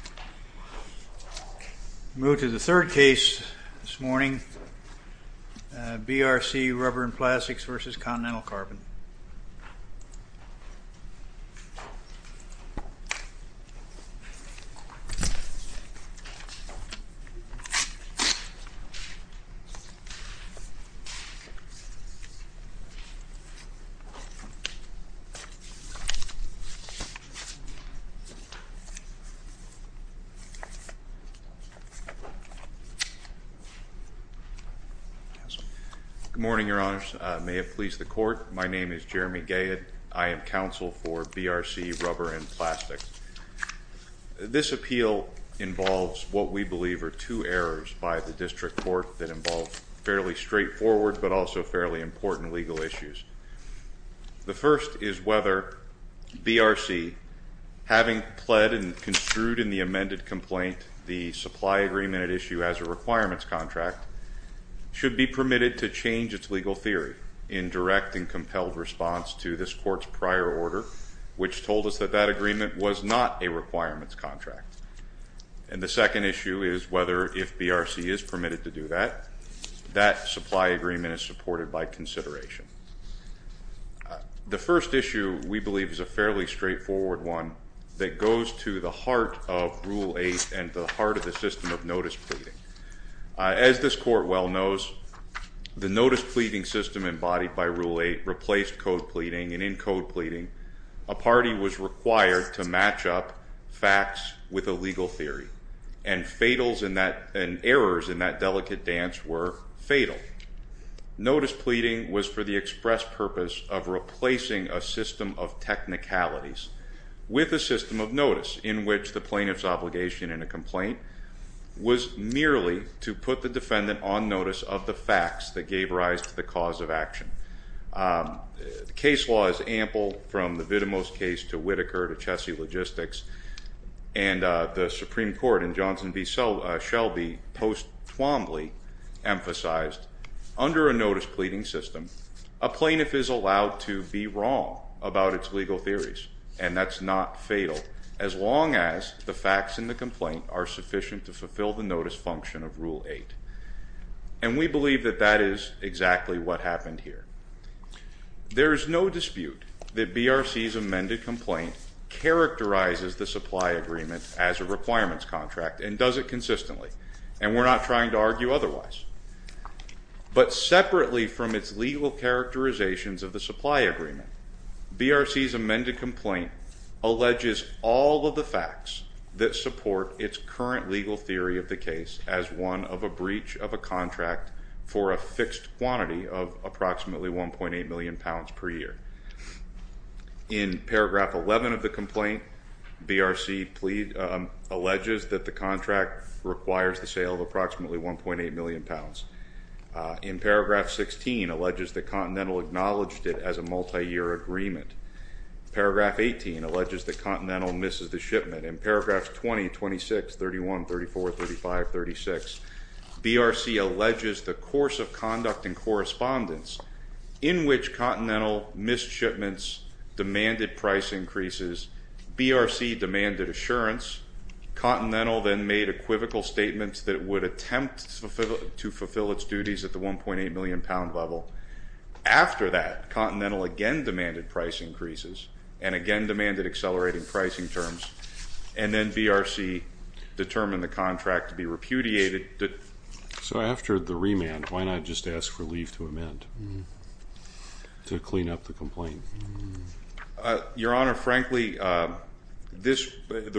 We move to the third case this morning, BRC Rubber & Plastics v. Continental Carbon. Good morning, Your Honors. May it please the Court, my name is Jeremy Gayed. I am counsel for BRC Rubber & Plastics. This appeal involves what we believe are two errors by the District Court that involve fairly straightforward but also fairly important legal issues. The amended complaint, the supply agreement at issue as a requirements contract, should be permitted to change its legal theory in direct and compelled response to this Court's prior order, which told us that that agreement was not a requirements contract. And the second issue is whether, if BRC is permitted to do that, that supply agreement is supported by consideration. The first issue we believe is a fairly straightforward one that goes to the heart of Rule 8 and the heart of the system of notice pleading. As this Court well knows, the notice pleading system embodied by Rule 8 replaced code pleading, and in code pleading, a party was required to match up facts with a legal theory, and errors in that delicate dance were fatal. Notice pleading was for the express purpose of replacing a system of notice in which the plaintiff's obligation in a complaint was merely to put the defendant on notice of the facts that gave rise to the cause of action. The case law is ample, from the Vitamos case to Whitaker to Chessie Logistics, and the Supreme Court in Johnson v. Shelby post-Twombly emphasized, under a notice pleading system, a plaintiff is allowed to be wrong about its legal theories, and that's not fatal, as long as the facts in the complaint are sufficient to fulfill the notice function of Rule 8. And we believe that that is exactly what happened here. There is no dispute that BRC's amended complaint characterizes the supply agreement as a requirements contract and does it consistently, and we're not trying to argue otherwise. But separately from its legal characterizations of the supply agreement, BRC's amended complaint alleges all of the facts that support its current legal theory of the case as one of a breach of a contract for a fixed quantity of approximately 1.8 million pounds per year. In paragraph 11 of the complaint, BRC alleges that the contract is a breach of a contract for approximately 1.8 million pounds. In paragraph 16, alleges that Continental acknowledged it as a multi-year agreement. Paragraph 18 alleges that Continental misses the shipment. In paragraphs 20, 26, 31, 34, 35, 36, BRC alleges the course of conduct and correspondence in which Continental missed shipments, demanded price increases, BRC demanded assurance, Continental then made equivocal statements that it would attempt to fulfill its duties at the 1.8 million pound level. After that, Continental again demanded price increases and again demanded accelerating pricing terms, and then BRC determined the contract to be repudiated. So after the remand, why not just ask for leave to amend to clean up the complaint? Your Honor, frankly, the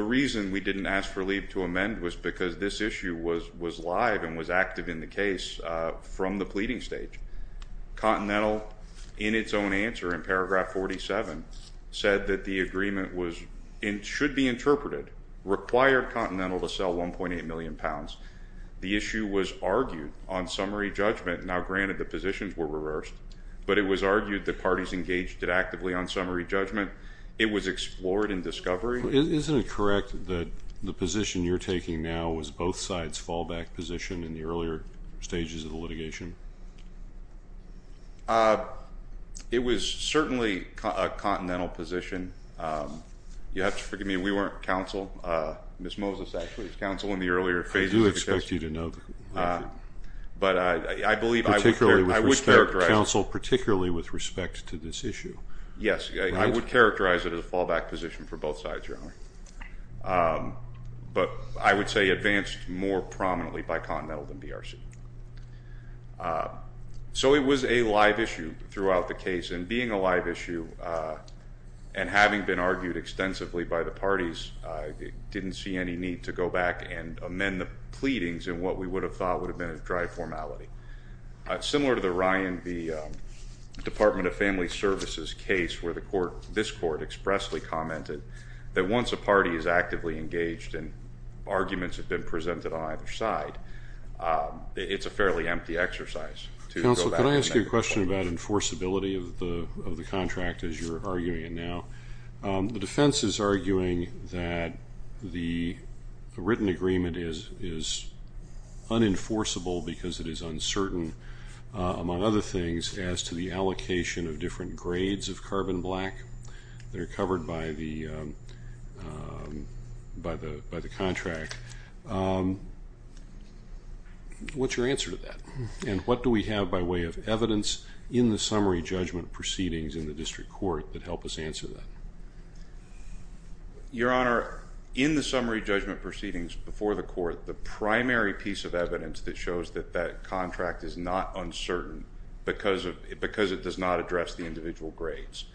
reason we didn't ask for leave to amend was because this issue was live and was active in the case from the pleading stage. Continental in its own answer in paragraph 47 said that the agreement should be interpreted, required Continental to sell 1.8 million pounds. The issue was argued on summary judgment, now it's engaged actively on summary judgment. It was explored in discovery. Isn't it correct that the position you're taking now was both sides' fallback position in the earlier stages of the litigation? It was certainly a Continental position. You have to forgive me, we weren't counsel. Ms. Moses actually was counsel in the earlier phases of the case. I do expect Yes, I would characterize it as a fallback position for both sides, Your Honor. But I would say advanced more prominently by Continental than BRC. So it was a live issue throughout the case, and being a live issue and having been argued extensively by the parties, I didn't see any need to go back and amend the pleadings in what we would have thought would have been a services case where this court expressly commented that once a party is actively engaged and arguments have been presented on either side, it's a fairly empty exercise to go back and amend the pleadings. Counsel, can I ask you a question about enforceability of the contract as you're arguing it now? The defense is arguing that the written agreement is unenforceable because it is uncertain, among other things, as to the allocation of different grades of carbon black that are covered by the contract. What's your answer to that? And what do we have by way of evidence in the summary judgment proceedings in the district court that help us answer that? Your Honor, in the summary judgment proceedings before the court, the primary piece of evidence that shows that that contract is not uncertain because it does not address the individual grades.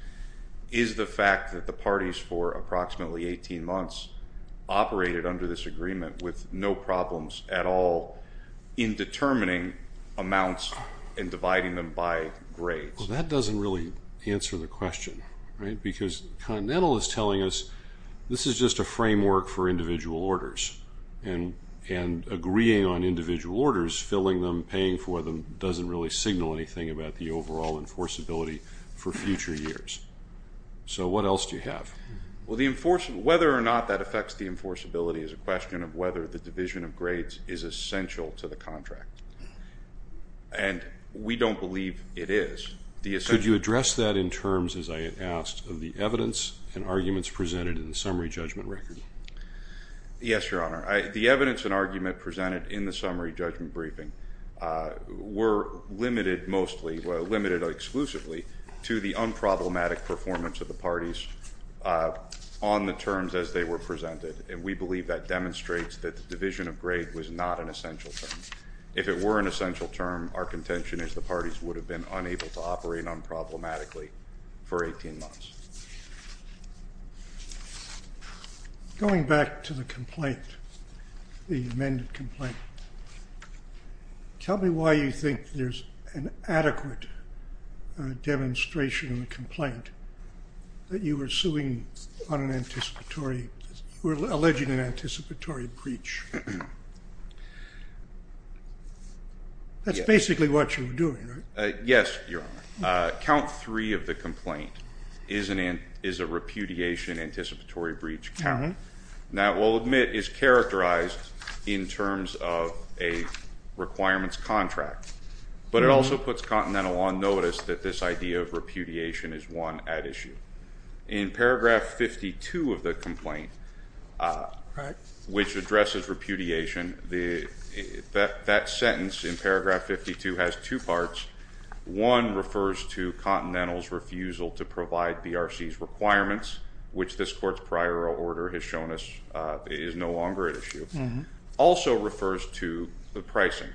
Is the fact that the parties for approximately 18 months operated under this agreement with no problems at all in determining amounts and dividing them by grades? Well, that doesn't really answer the question, right? Because Continental is telling us this is just a framework for individual orders, and agreeing on individual orders doesn't reveal anything about the overall enforceability for future years. So what else do you have? Well, whether or not that affects the enforceability is a question of whether the division of grades is essential to the contract. And we don't believe it is. Could you address that in terms, as I had asked, of the evidence and arguments presented in the summary judgment record? Yes, Your Honor. The evidence and argument presented in the summary judgment record limited exclusively to the unproblematic performance of the parties on the terms as they were presented, and we believe that demonstrates that the division of grade was not an essential term. If it were an essential term, our contention is the parties would have been unable to operate unproblematically for 18 months. Going back to the complaint, the amended complaint, tell me why you think there's an adequate demonstration in the complaint that you were suing on an anticipatory, you were alleging an anticipatory breach. That's basically what you were doing, right? Yes, Your Honor. Count three of the complaint is a repudiation anticipatory breach count. That, we'll admit, is characterized in terms of a requirements contract, but it also puts Continental on notice that this idea of repudiation is one at issue. In paragraph 52 of the complaint, which addresses repudiation, that sentence in paragraph 52 has two parts. One refers to Continental's refusal to provide BRC's requirements, which this court's prior order has shown us is no longer at issue. Also refers to the pricing,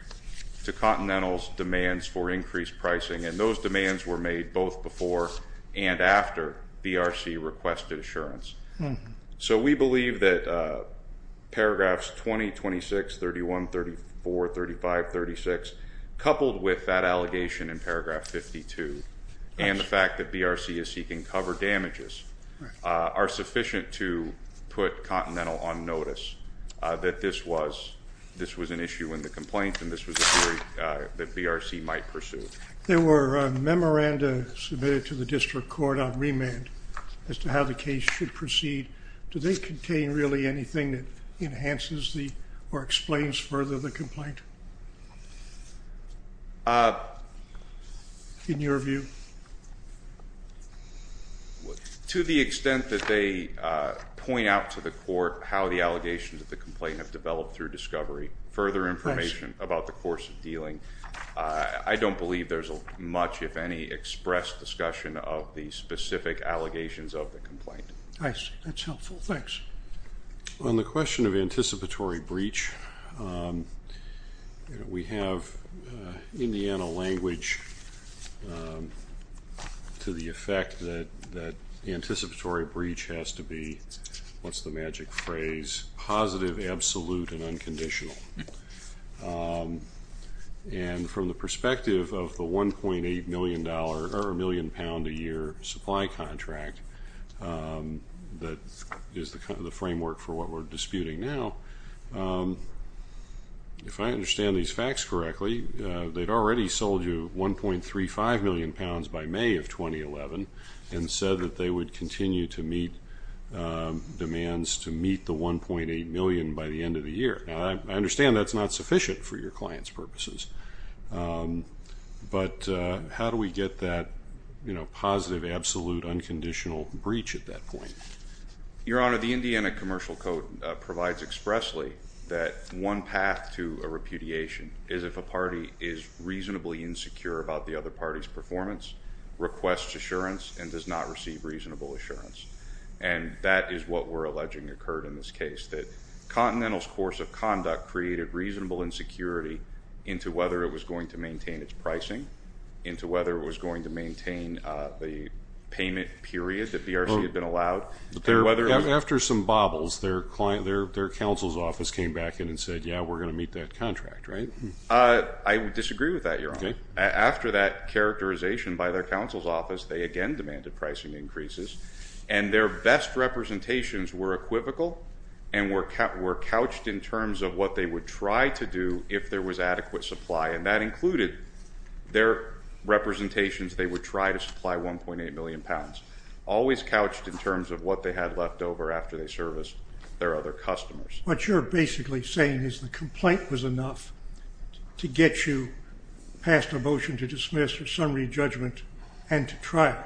to Continental's demands for increased pricing, and those demands were made both before and after BRC requested assurance. So we believe that paragraphs 2026 31, 34, 35, 36, coupled with that allegation in paragraph 52 and the fact that BRC is seeking cover damages are sufficient to put Continental on notice that this was an issue in the complaint and this was a theory that BRC might pursue. There were memoranda submitted to the district court on remand as to how the case should proceed. Do they contain really anything that explains further the complaint in your view? To the extent that they point out to the court how the allegations of the complaint have developed through discovery, further information about the course of dealing, I don't believe there's much, if any, expressed discussion of the specific allegations of the complaint. I see. That's helpful. Thanks. On the question of anticipatory breach, we have Indiana language to the effect that anticipatory breach has to be, what's the magic phrase, positive, absolute, and unconditional. And from the perspective of the $1.8 million, or a million pound a year supply contract that is the framework for what we're disputing now, if I understand these facts correctly, they'd already sold you 1.35 million pounds by May of 2011 and said that they would continue to meet demands to meet the 1.8 million by the end of the year. Now I understand that's not sufficient for your client's purposes, but how do we get that positive, absolute, unconditional breach at that point? Your Honor, the Indiana Commercial Code provides expressly that one path to a repudiation is if a party is reasonably insecure about the other party's performance, requests assurance, and does not receive reasonable assurance. And that is what we're alleging occurred in this case, that Continental's course of conduct created reasonable insecurity into whether it was going to maintain its pricing, into whether it was going to maintain the payment period that BRC had been allowed. After some bobbles, their counsel's office came back in and said, yeah, we're going to meet that contract, right? I would disagree with that, Your Honor. After that characterization by their counsel's office, they again demanded pricing increases, and their best representations were equivocal and were couched in terms of what they would try to do if there was adequate supply. And that included their representations they would try to supply 1.8 million pounds, always couched in terms of what they had left over after they serviced their other customers. What you're basically saying is the complaint was enough to get you passed a motion to dismiss or summary judgment and to trial,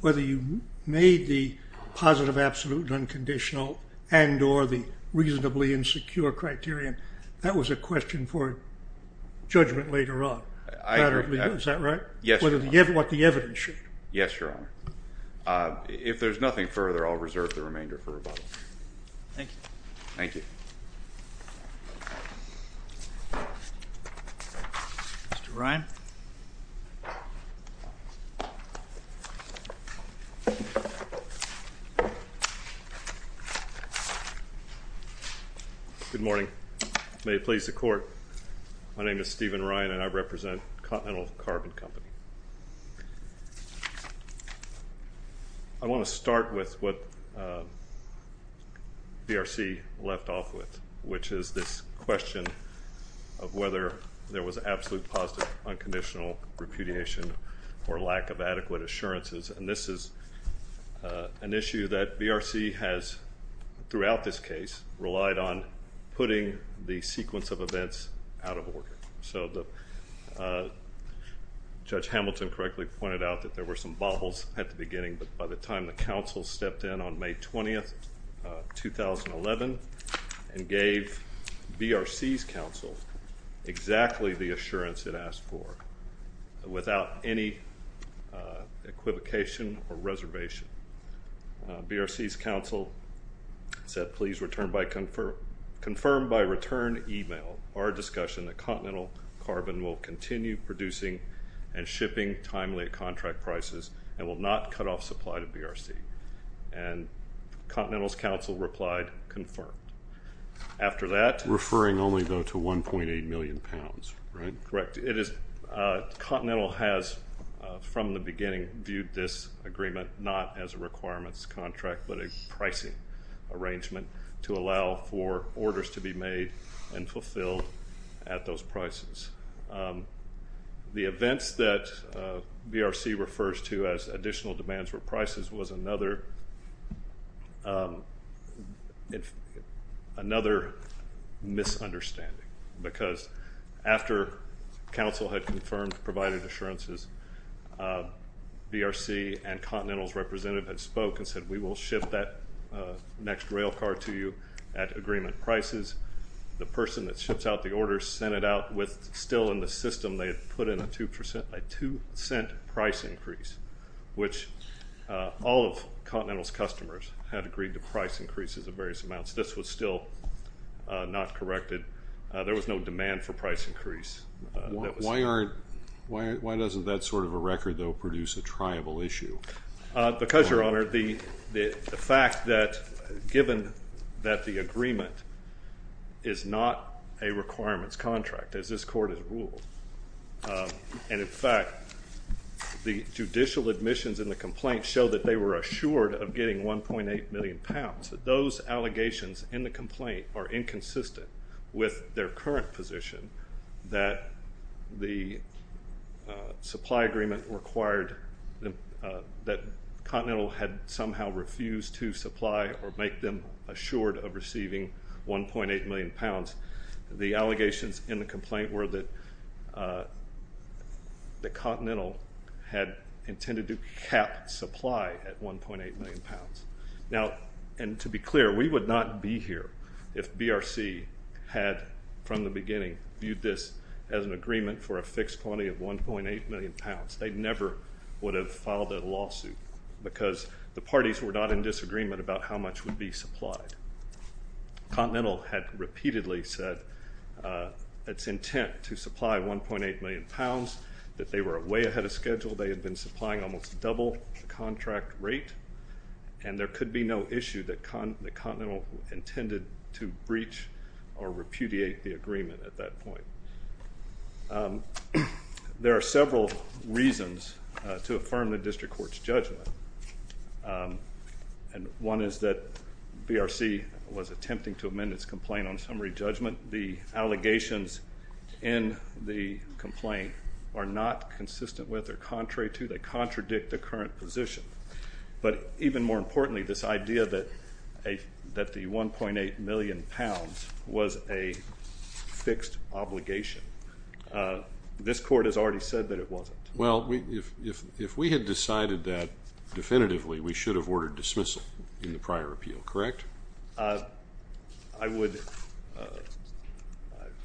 whether you made the positive, absolute, unconditional, and or the reasonably insecure criterion. That was a question for judgment later on. Is that right? Yes, Your Honor. What the evidence should be. Yes, Your Honor. If there's nothing further, I'll reserve the remainder for rebuttal. Thank you. Thank you. Mr. Ryan. Good morning. May it please the Court, my name is Stephen Ryan and I represent Continental Carbon Company. I want to start with what Mr. Ryan has said that BRC left off with, which is this question of whether there was absolute, positive, unconditional repudiation or lack of adequate assurances. And this is an issue that BRC has, throughout this case, relied on putting the sequence of events out of order. So Judge Hamilton correctly pointed out that there were some baubles at the beginning, but by the time the counsel stepped in on May 20, 2011, and gave BRC's counsel exactly the assurance it asked for, without any equivocation or reservation. BRC's counsel said, please confirm by return email our discussion that Continental Carbon will continue producing and shipping timely at contract prices and will not cut off supply to BRC. And Continental's counsel replied, confirmed. After that... Referring only though to 1.8 million pounds, right? Correct. Continental has, from the beginning, viewed this agreement not as a requirements contract, but a pricing arrangement to allow for orders to be made and fulfilled at those prices. The events that BRC refers to as additional demands for prices was another misunderstanding, because after counsel had confirmed, provided assurances, BRC and Continental's representative had spoke and said, we will ship that next rail car to you at agreement prices. The person that put in a two percent, a two cent price increase, which all of Continental's customers had agreed to price increases of various amounts. This was still not corrected. There was no demand for price increase. Why aren't, why doesn't that sort of a record, though, produce a triable issue? Because, Your Honor, the fact that given that the agreement is not a requirements contract, as this Court has ruled, and in fact, the judicial admissions in the complaint show that they were assured of getting 1.8 million pounds, that those allegations in the complaint are inconsistent with their current position that the supply agreement required, that Continental had somehow refused to supply or make them assured of receiving 1.8 million pounds. The allegations in the complaint were that Continental had intended to cap supply at 1.8 million pounds. Now, and to be clear, we would not be here if BRC had, from the beginning, viewed this as an agreement for a fixed quantity of 1.8 million pounds. They never would have filed a lawsuit, because the parties were not in disagreement about how much would be supplied. Continental had repeatedly said its intent to supply 1.8 million pounds, that they were way ahead of schedule, they had been supplying almost double the contract rate, and there could be no issue that Continental intended to breach or repudiate the agreement at that point. There are several reasons to affirm the District Court's judgment, and one is that BRC was attempting to amend its complaint on summary judgment. The allegations in the complaint are not consistent with or contrary to, they contradict the current position, but even more importantly, this idea that the 1.8 million pounds was a fixed obligation. This Court has already said that it wasn't. Well, if we had decided that definitively, we should have ordered dismissal in the prior appeal, correct? I would,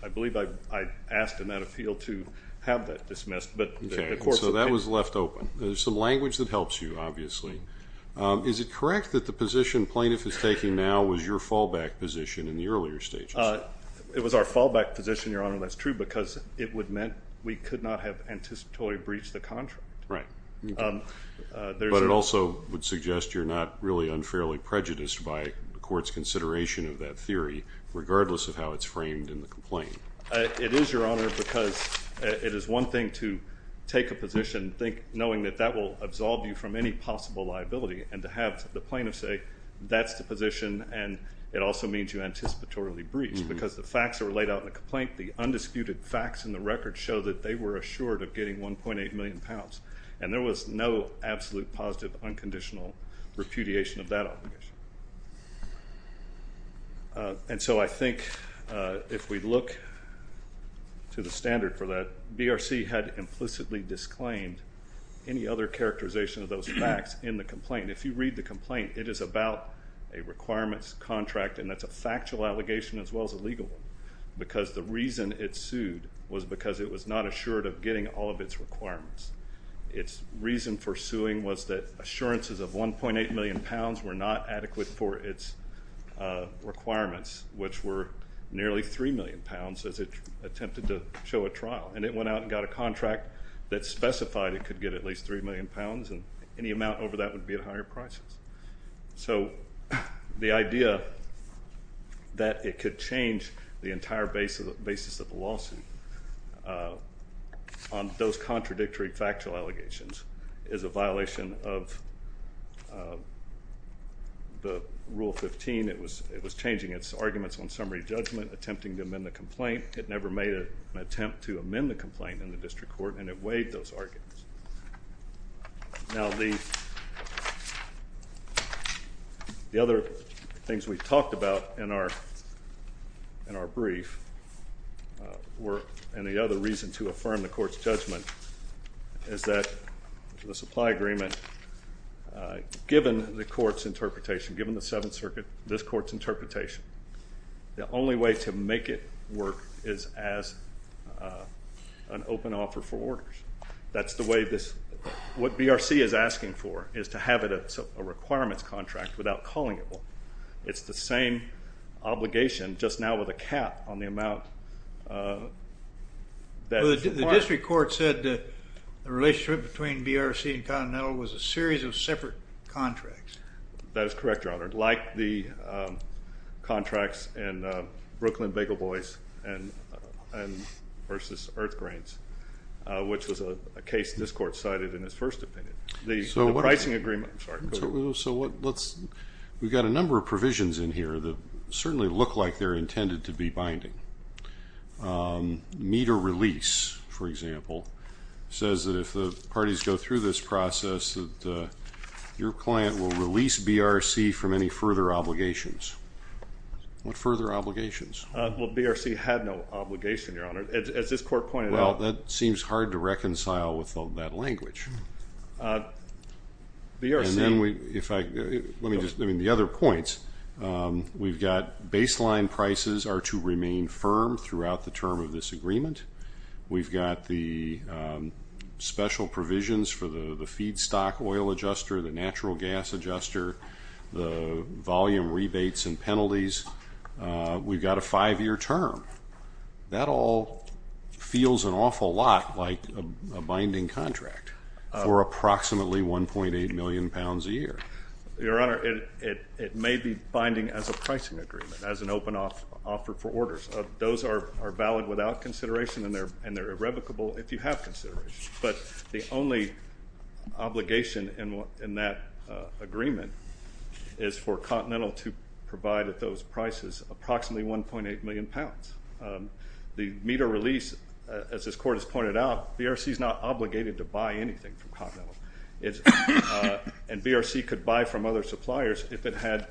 I believe I asked in that appeal to have that dismissed, but the Court's opinion... Okay, so that was left open. There's some language that helps you, obviously. Is it correct that the position plaintiff is taking now was your fallback position in the earlier stages? It was our fallback because it meant we could not have anticipatorily breached the contract. Right. But it also would suggest you're not really unfairly prejudiced by the Court's consideration of that theory, regardless of how it's framed in the complaint. It is, Your Honor, because it is one thing to take a position, knowing that that will absolve you from any possible liability, and to have the plaintiff say, that's the position, and it also means you facts in the record show that they were assured of getting 1.8 million pounds, and there was no absolute, positive, unconditional repudiation of that obligation. And so I think if we look to the standard for that, BRC had implicitly disclaimed any other characterization of those facts in the complaint. If you read the complaint, it is about a requirements contract, and that's a factual allegation as well as a legal one, because the reason it sued was because it was not assured of getting all of its requirements. Its reason for suing was that assurances of 1.8 million pounds were not adequate for its requirements, which were nearly 3 million pounds as it attempted to show a trial, and it went out and got a contract that specified it could get at least 3 million pounds, and any amount over that would be at higher prices. So the idea that it could change the entire basis of the lawsuit on those contradictory factual allegations is a violation of the Rule 15. It was changing its arguments on summary judgment, attempting to amend the complaint. It never made an attempt to amend the complaint in the district court, and it weighed those arguments. Now the other things we talked about in our brief were, and the other reason to affirm the court's judgment is that the supply agreement, given the court's interpretation, given the Seventh Circuit's interpretation, is an open offer for orders. That's the way this, what BRC is asking for is to have a requirements contract without calling it one. It's the same obligation just now with a cap on the amount that is required. The district court said that the relationship between BRC and Continental was a series of separate contracts. That is correct, Your Honor. Like the contracts in Brooklyn Bagel Boys versus Earth Grove Brains, which was a case this court cited in its first opinion. The pricing agreement, sorry, go ahead. So what, let's, we've got a number of provisions in here that certainly look like they're intended to be binding. Meet or release, for example, says that if the parties go through this process that your client will release BRC from any further obligations. What further obligations? Well, BRC had no obligation, Your Honor. As this court pointed out. Well, that seems hard to reconcile with all that language. BRC. And then we, if I, let me just, I mean the other points, we've got baseline prices are to remain firm throughout the term of this agreement. We've got the special provisions for the feedstock oil adjuster, the natural gas adjuster, the volume rebates and penalties. We've got a five-year term. That all feels an awful lot like a binding contract for approximately 1.8 million pounds a year. Your Honor, it may be binding as a pricing agreement, as an open offer for orders. Those are valid without consideration and they're irrevocable if you have consideration. But the only obligation in that agreement is for Continental to provide those binding terms at prices approximately 1.8 million pounds. The meter release, as this court has pointed out, BRC is not obligated to buy anything from Continental. And BRC could buy from other suppliers if it had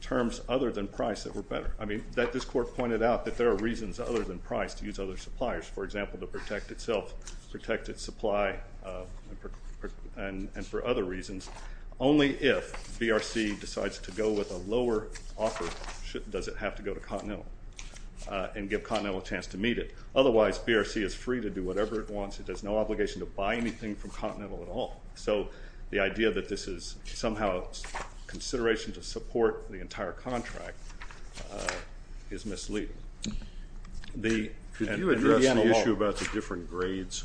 terms other than price that were better. I mean, this court pointed out that there are reasons other than price to use other suppliers, for example, to protect itself, protect its supply and for other reasons, only if BRC decides to go with a lower offer does it have to go to Continental and give Continental a chance to meet it. Otherwise, BRC is free to do whatever it wants. It has no obligation to buy anything from Continental at all. So the idea that this is somehow a consideration to support the entire contract is misleading. Could you address the issue about the different grades?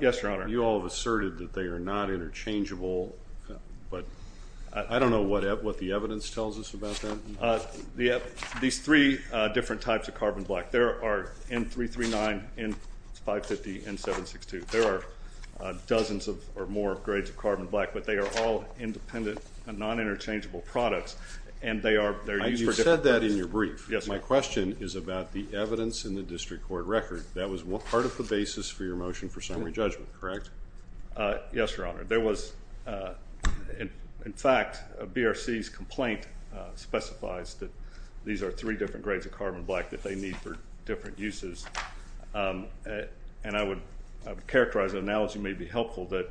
Yes, Your Honor. You all have asserted that they are not interchangeable, but I don't know what the evidence tells us about that. These three different types of carbon black. There are N339, N550, N762. There are dozens of or more grades of carbon black, but they are all independent, non-interchangeable products and they are used for different purposes. You said that in your brief. Yes, Your Honor. My question is about the evidence in the district court record. That was part of the basis for your motion for summary judgment, correct? Yes, Your Honor. In fact, BRC's complaint specifies that these are three different grades of carbon black that they need for different uses. And I would characterize the analogy may be helpful that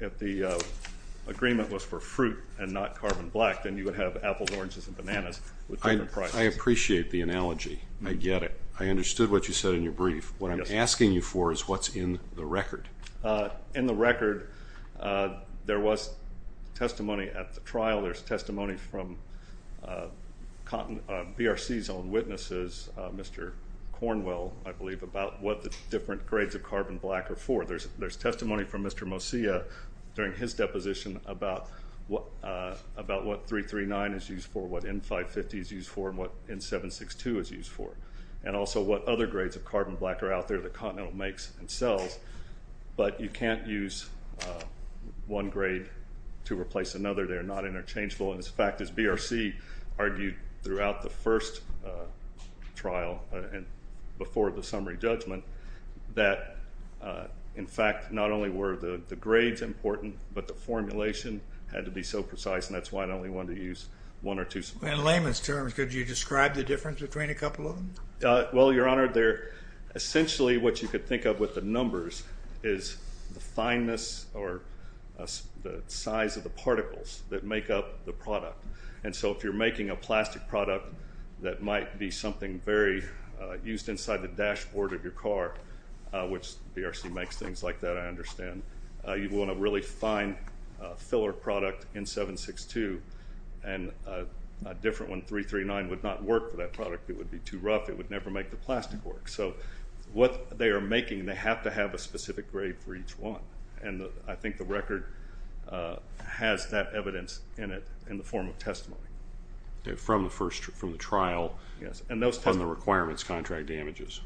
if the agreement was for fruit and not carbon black, then you would have apples, oranges, and bananas with different prices. I appreciate the analogy. I get it. I understood what you said in your brief. What I'm asking you for is what's in the record. In the record, there was testimony at the trial. There's testimony from BRC's own witnesses, Mr. Cornwell, I believe, about what the different grades of carbon black are for. There's testimony from Mr. Mosia during his deposition about what 339 is used for, what N550 is used for, and what N762 is used for, and also what other grades of carbon black are out there that Continental makes and sells, but you can't use one grade to replace another. They are not interchangeable. And, in fact, as BRC argued throughout the first trial and before the summary judgment, that, in fact, not only were the grades important, but the formulation had to be so precise, and that's why it only wanted to use one or two. In layman's terms, could you describe the difference between a couple of them? Well, Your Honor, they're essentially what you could think of with the numbers is the fineness or the size of the particles that make up the product. And so if you're making a plastic product that might be something very used inside the dashboard of your car, which BRC makes things like that, I understand, you want a really fine filler product, N762, and a different one, N339, would not work for that product. It would be too rough. It would never make the plastic work. So what they are making, they have to have a specific grade for each one, and I think the record has that evidence in it in the form of testimony. From the first, from the trial? Yes, and those testimonies. On the requirements, contract damages?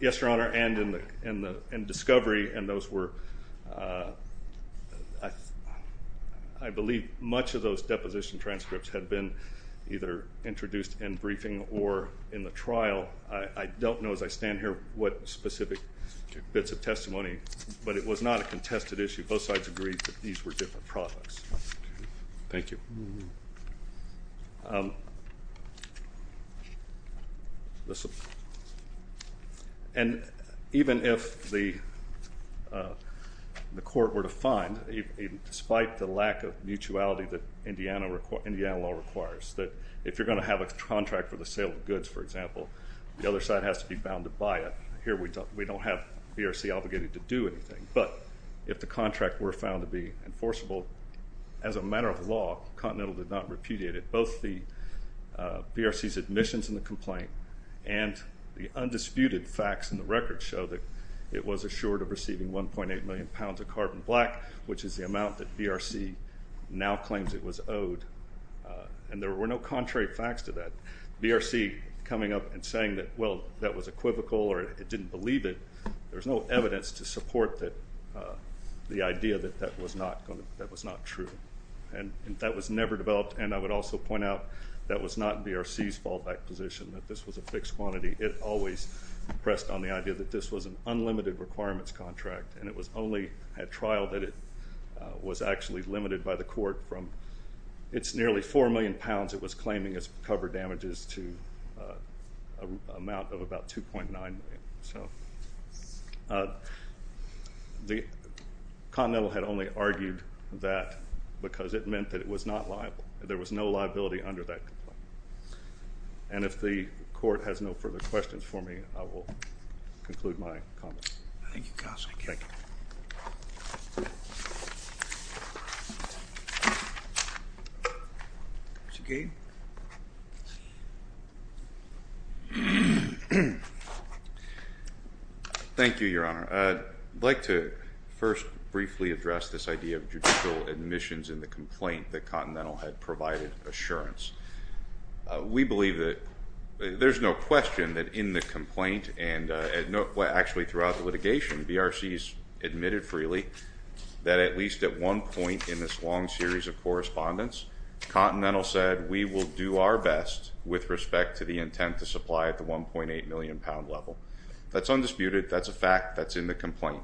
Yes, Your Honor, and in the discovery, and those were, I believe much of those deposition transcripts had been either introduced in briefing or in the trial. I don't know as I stand here what specific bits of testimony, but it was not a contested issue. Both sides agreed that these were different products. Thank you. And even if the court were to find, despite the lack of mutuality that Indiana law requires, that if you're going to have a contract for the sale of goods, for example, the other side has to be bound to buy it. Here we don't have BRC obligated to do anything, but if the contract were found to be enforceable, as a matter of law, Continental did not repudiate it. Both the BRC's admissions in the complaint and the undisputed facts in the record show that it was assured of receiving 1.8 million pounds of carbon black, which is the amount that BRC now claims it was owed, and there were no contrary facts to that. BRC coming up and saying that, well, that was equivocal or it didn't believe it, there's no evidence to support the idea that that was not true. And that was never developed, and I would also point out that was not BRC's fallback position, that this was a fixed quantity. It always pressed on the idea that this was an unlimited requirements contract, and it was only at trial that it was actually limited by the court from its nearly 4 million pounds it was claiming as cover damages to an amount of about 2.9 million. The Continental had only argued that because it meant that it was not liable. There was no liability under that complaint. And if the court has no further questions for me, I will conclude my comments. Thank you, Counsel. Thank you. Mr. Gade? Thank you, Your Honor. I'd like to first briefly address this idea of judicial admissions in the complaint that Continental had provided assurance. We believe that there's no question that in the complaint and actually throughout litigation, BRC has admitted freely that at least at one point in this long series of correspondence, Continental said, we will do our best with respect to the intent to supply at the 1.8 million pound level. That's undisputed. That's a fact that's in the complaint.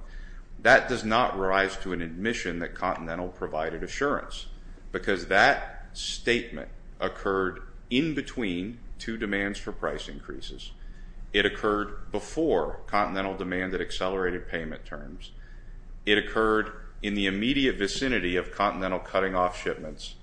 That does not rise to an admission that Continental provided assurance, because that statement occurred in between two demands for price increases. It occurred before Continental demanded accelerated payment terms. It occurred in the immediate vicinity of Continental cutting off shipments.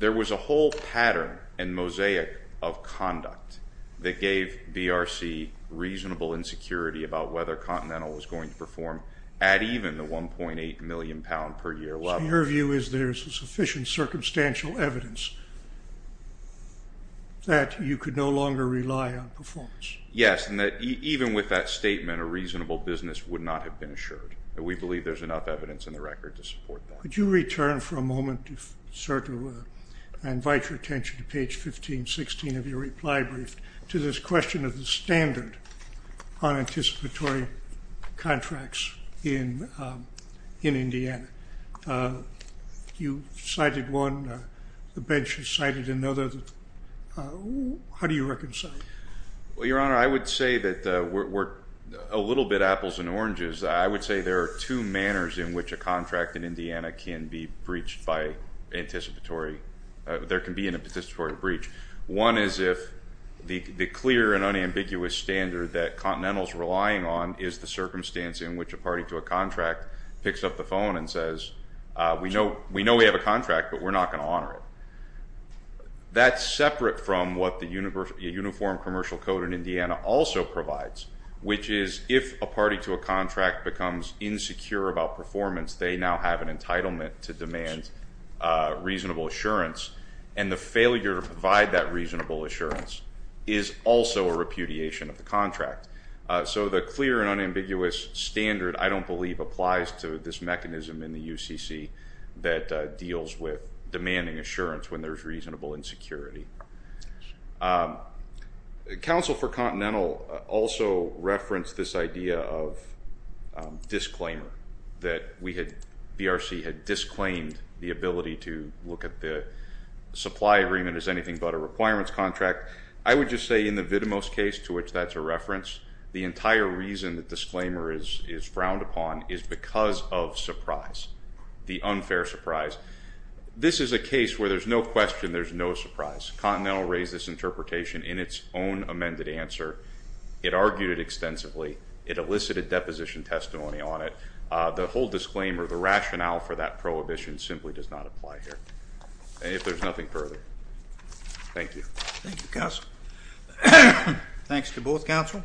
There was a whole pattern and mosaic of conduct that gave BRC reasonable insecurity about whether Continental was going to perform at even the 1.8 million pound per year level. So your view is there's sufficient circumstantial evidence that you could no longer rely on performance? Yes, and that even with that statement, a reasonable business would not have been assured. We believe there's enough evidence in the record to support that. Could you return for a moment, sir, to invite your attention to page 1516 of your reply brief to this question of the standard on anticipatory contracts in Indiana? You cited one. The bench has cited another. How do you reconcile? Well, Your Honor, I would say that we're a little bit apples and oranges. I would say there are two manners in which a contract in Indiana can be breached by anticipatory. There can be an anticipatory breach. One is if the clear and unambiguous standard that Continental is relying on is the circumstance in which a party to a contract picks up the phone and says, we know we have a contract, but we're not going to honor it. That's separate from what the Uniform Commercial Code in Indiana also provides, which is if a party to a contract becomes insecure about performance, they now have an entitlement to demand reasonable assurance, and the failure to provide that reasonable assurance is also a repudiation of the contract. So the clear and unambiguous standard I don't believe applies to this mechanism in the UCC that deals with demanding assurance when there's reasonable insecurity. Counsel for Continental also referenced this idea of disclaimer, that BRC had disclaimed the ability to look at the supply agreement as anything but a requirements contract. I would just say in the Vitamos case, to which that's a reference, the entire reason that disclaimer is frowned upon is because of surprise, the unfair surprise. This is a case where there's no question, there's no surprise. Continental raised this interpretation in its own amended answer. It argued it extensively. It elicited deposition testimony on it. The whole disclaimer, the rationale for that prohibition simply does not apply here. And if there's nothing further, thank you. Thank you, Counsel. Thanks to both Counsel.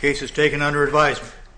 Case is taken under advisement.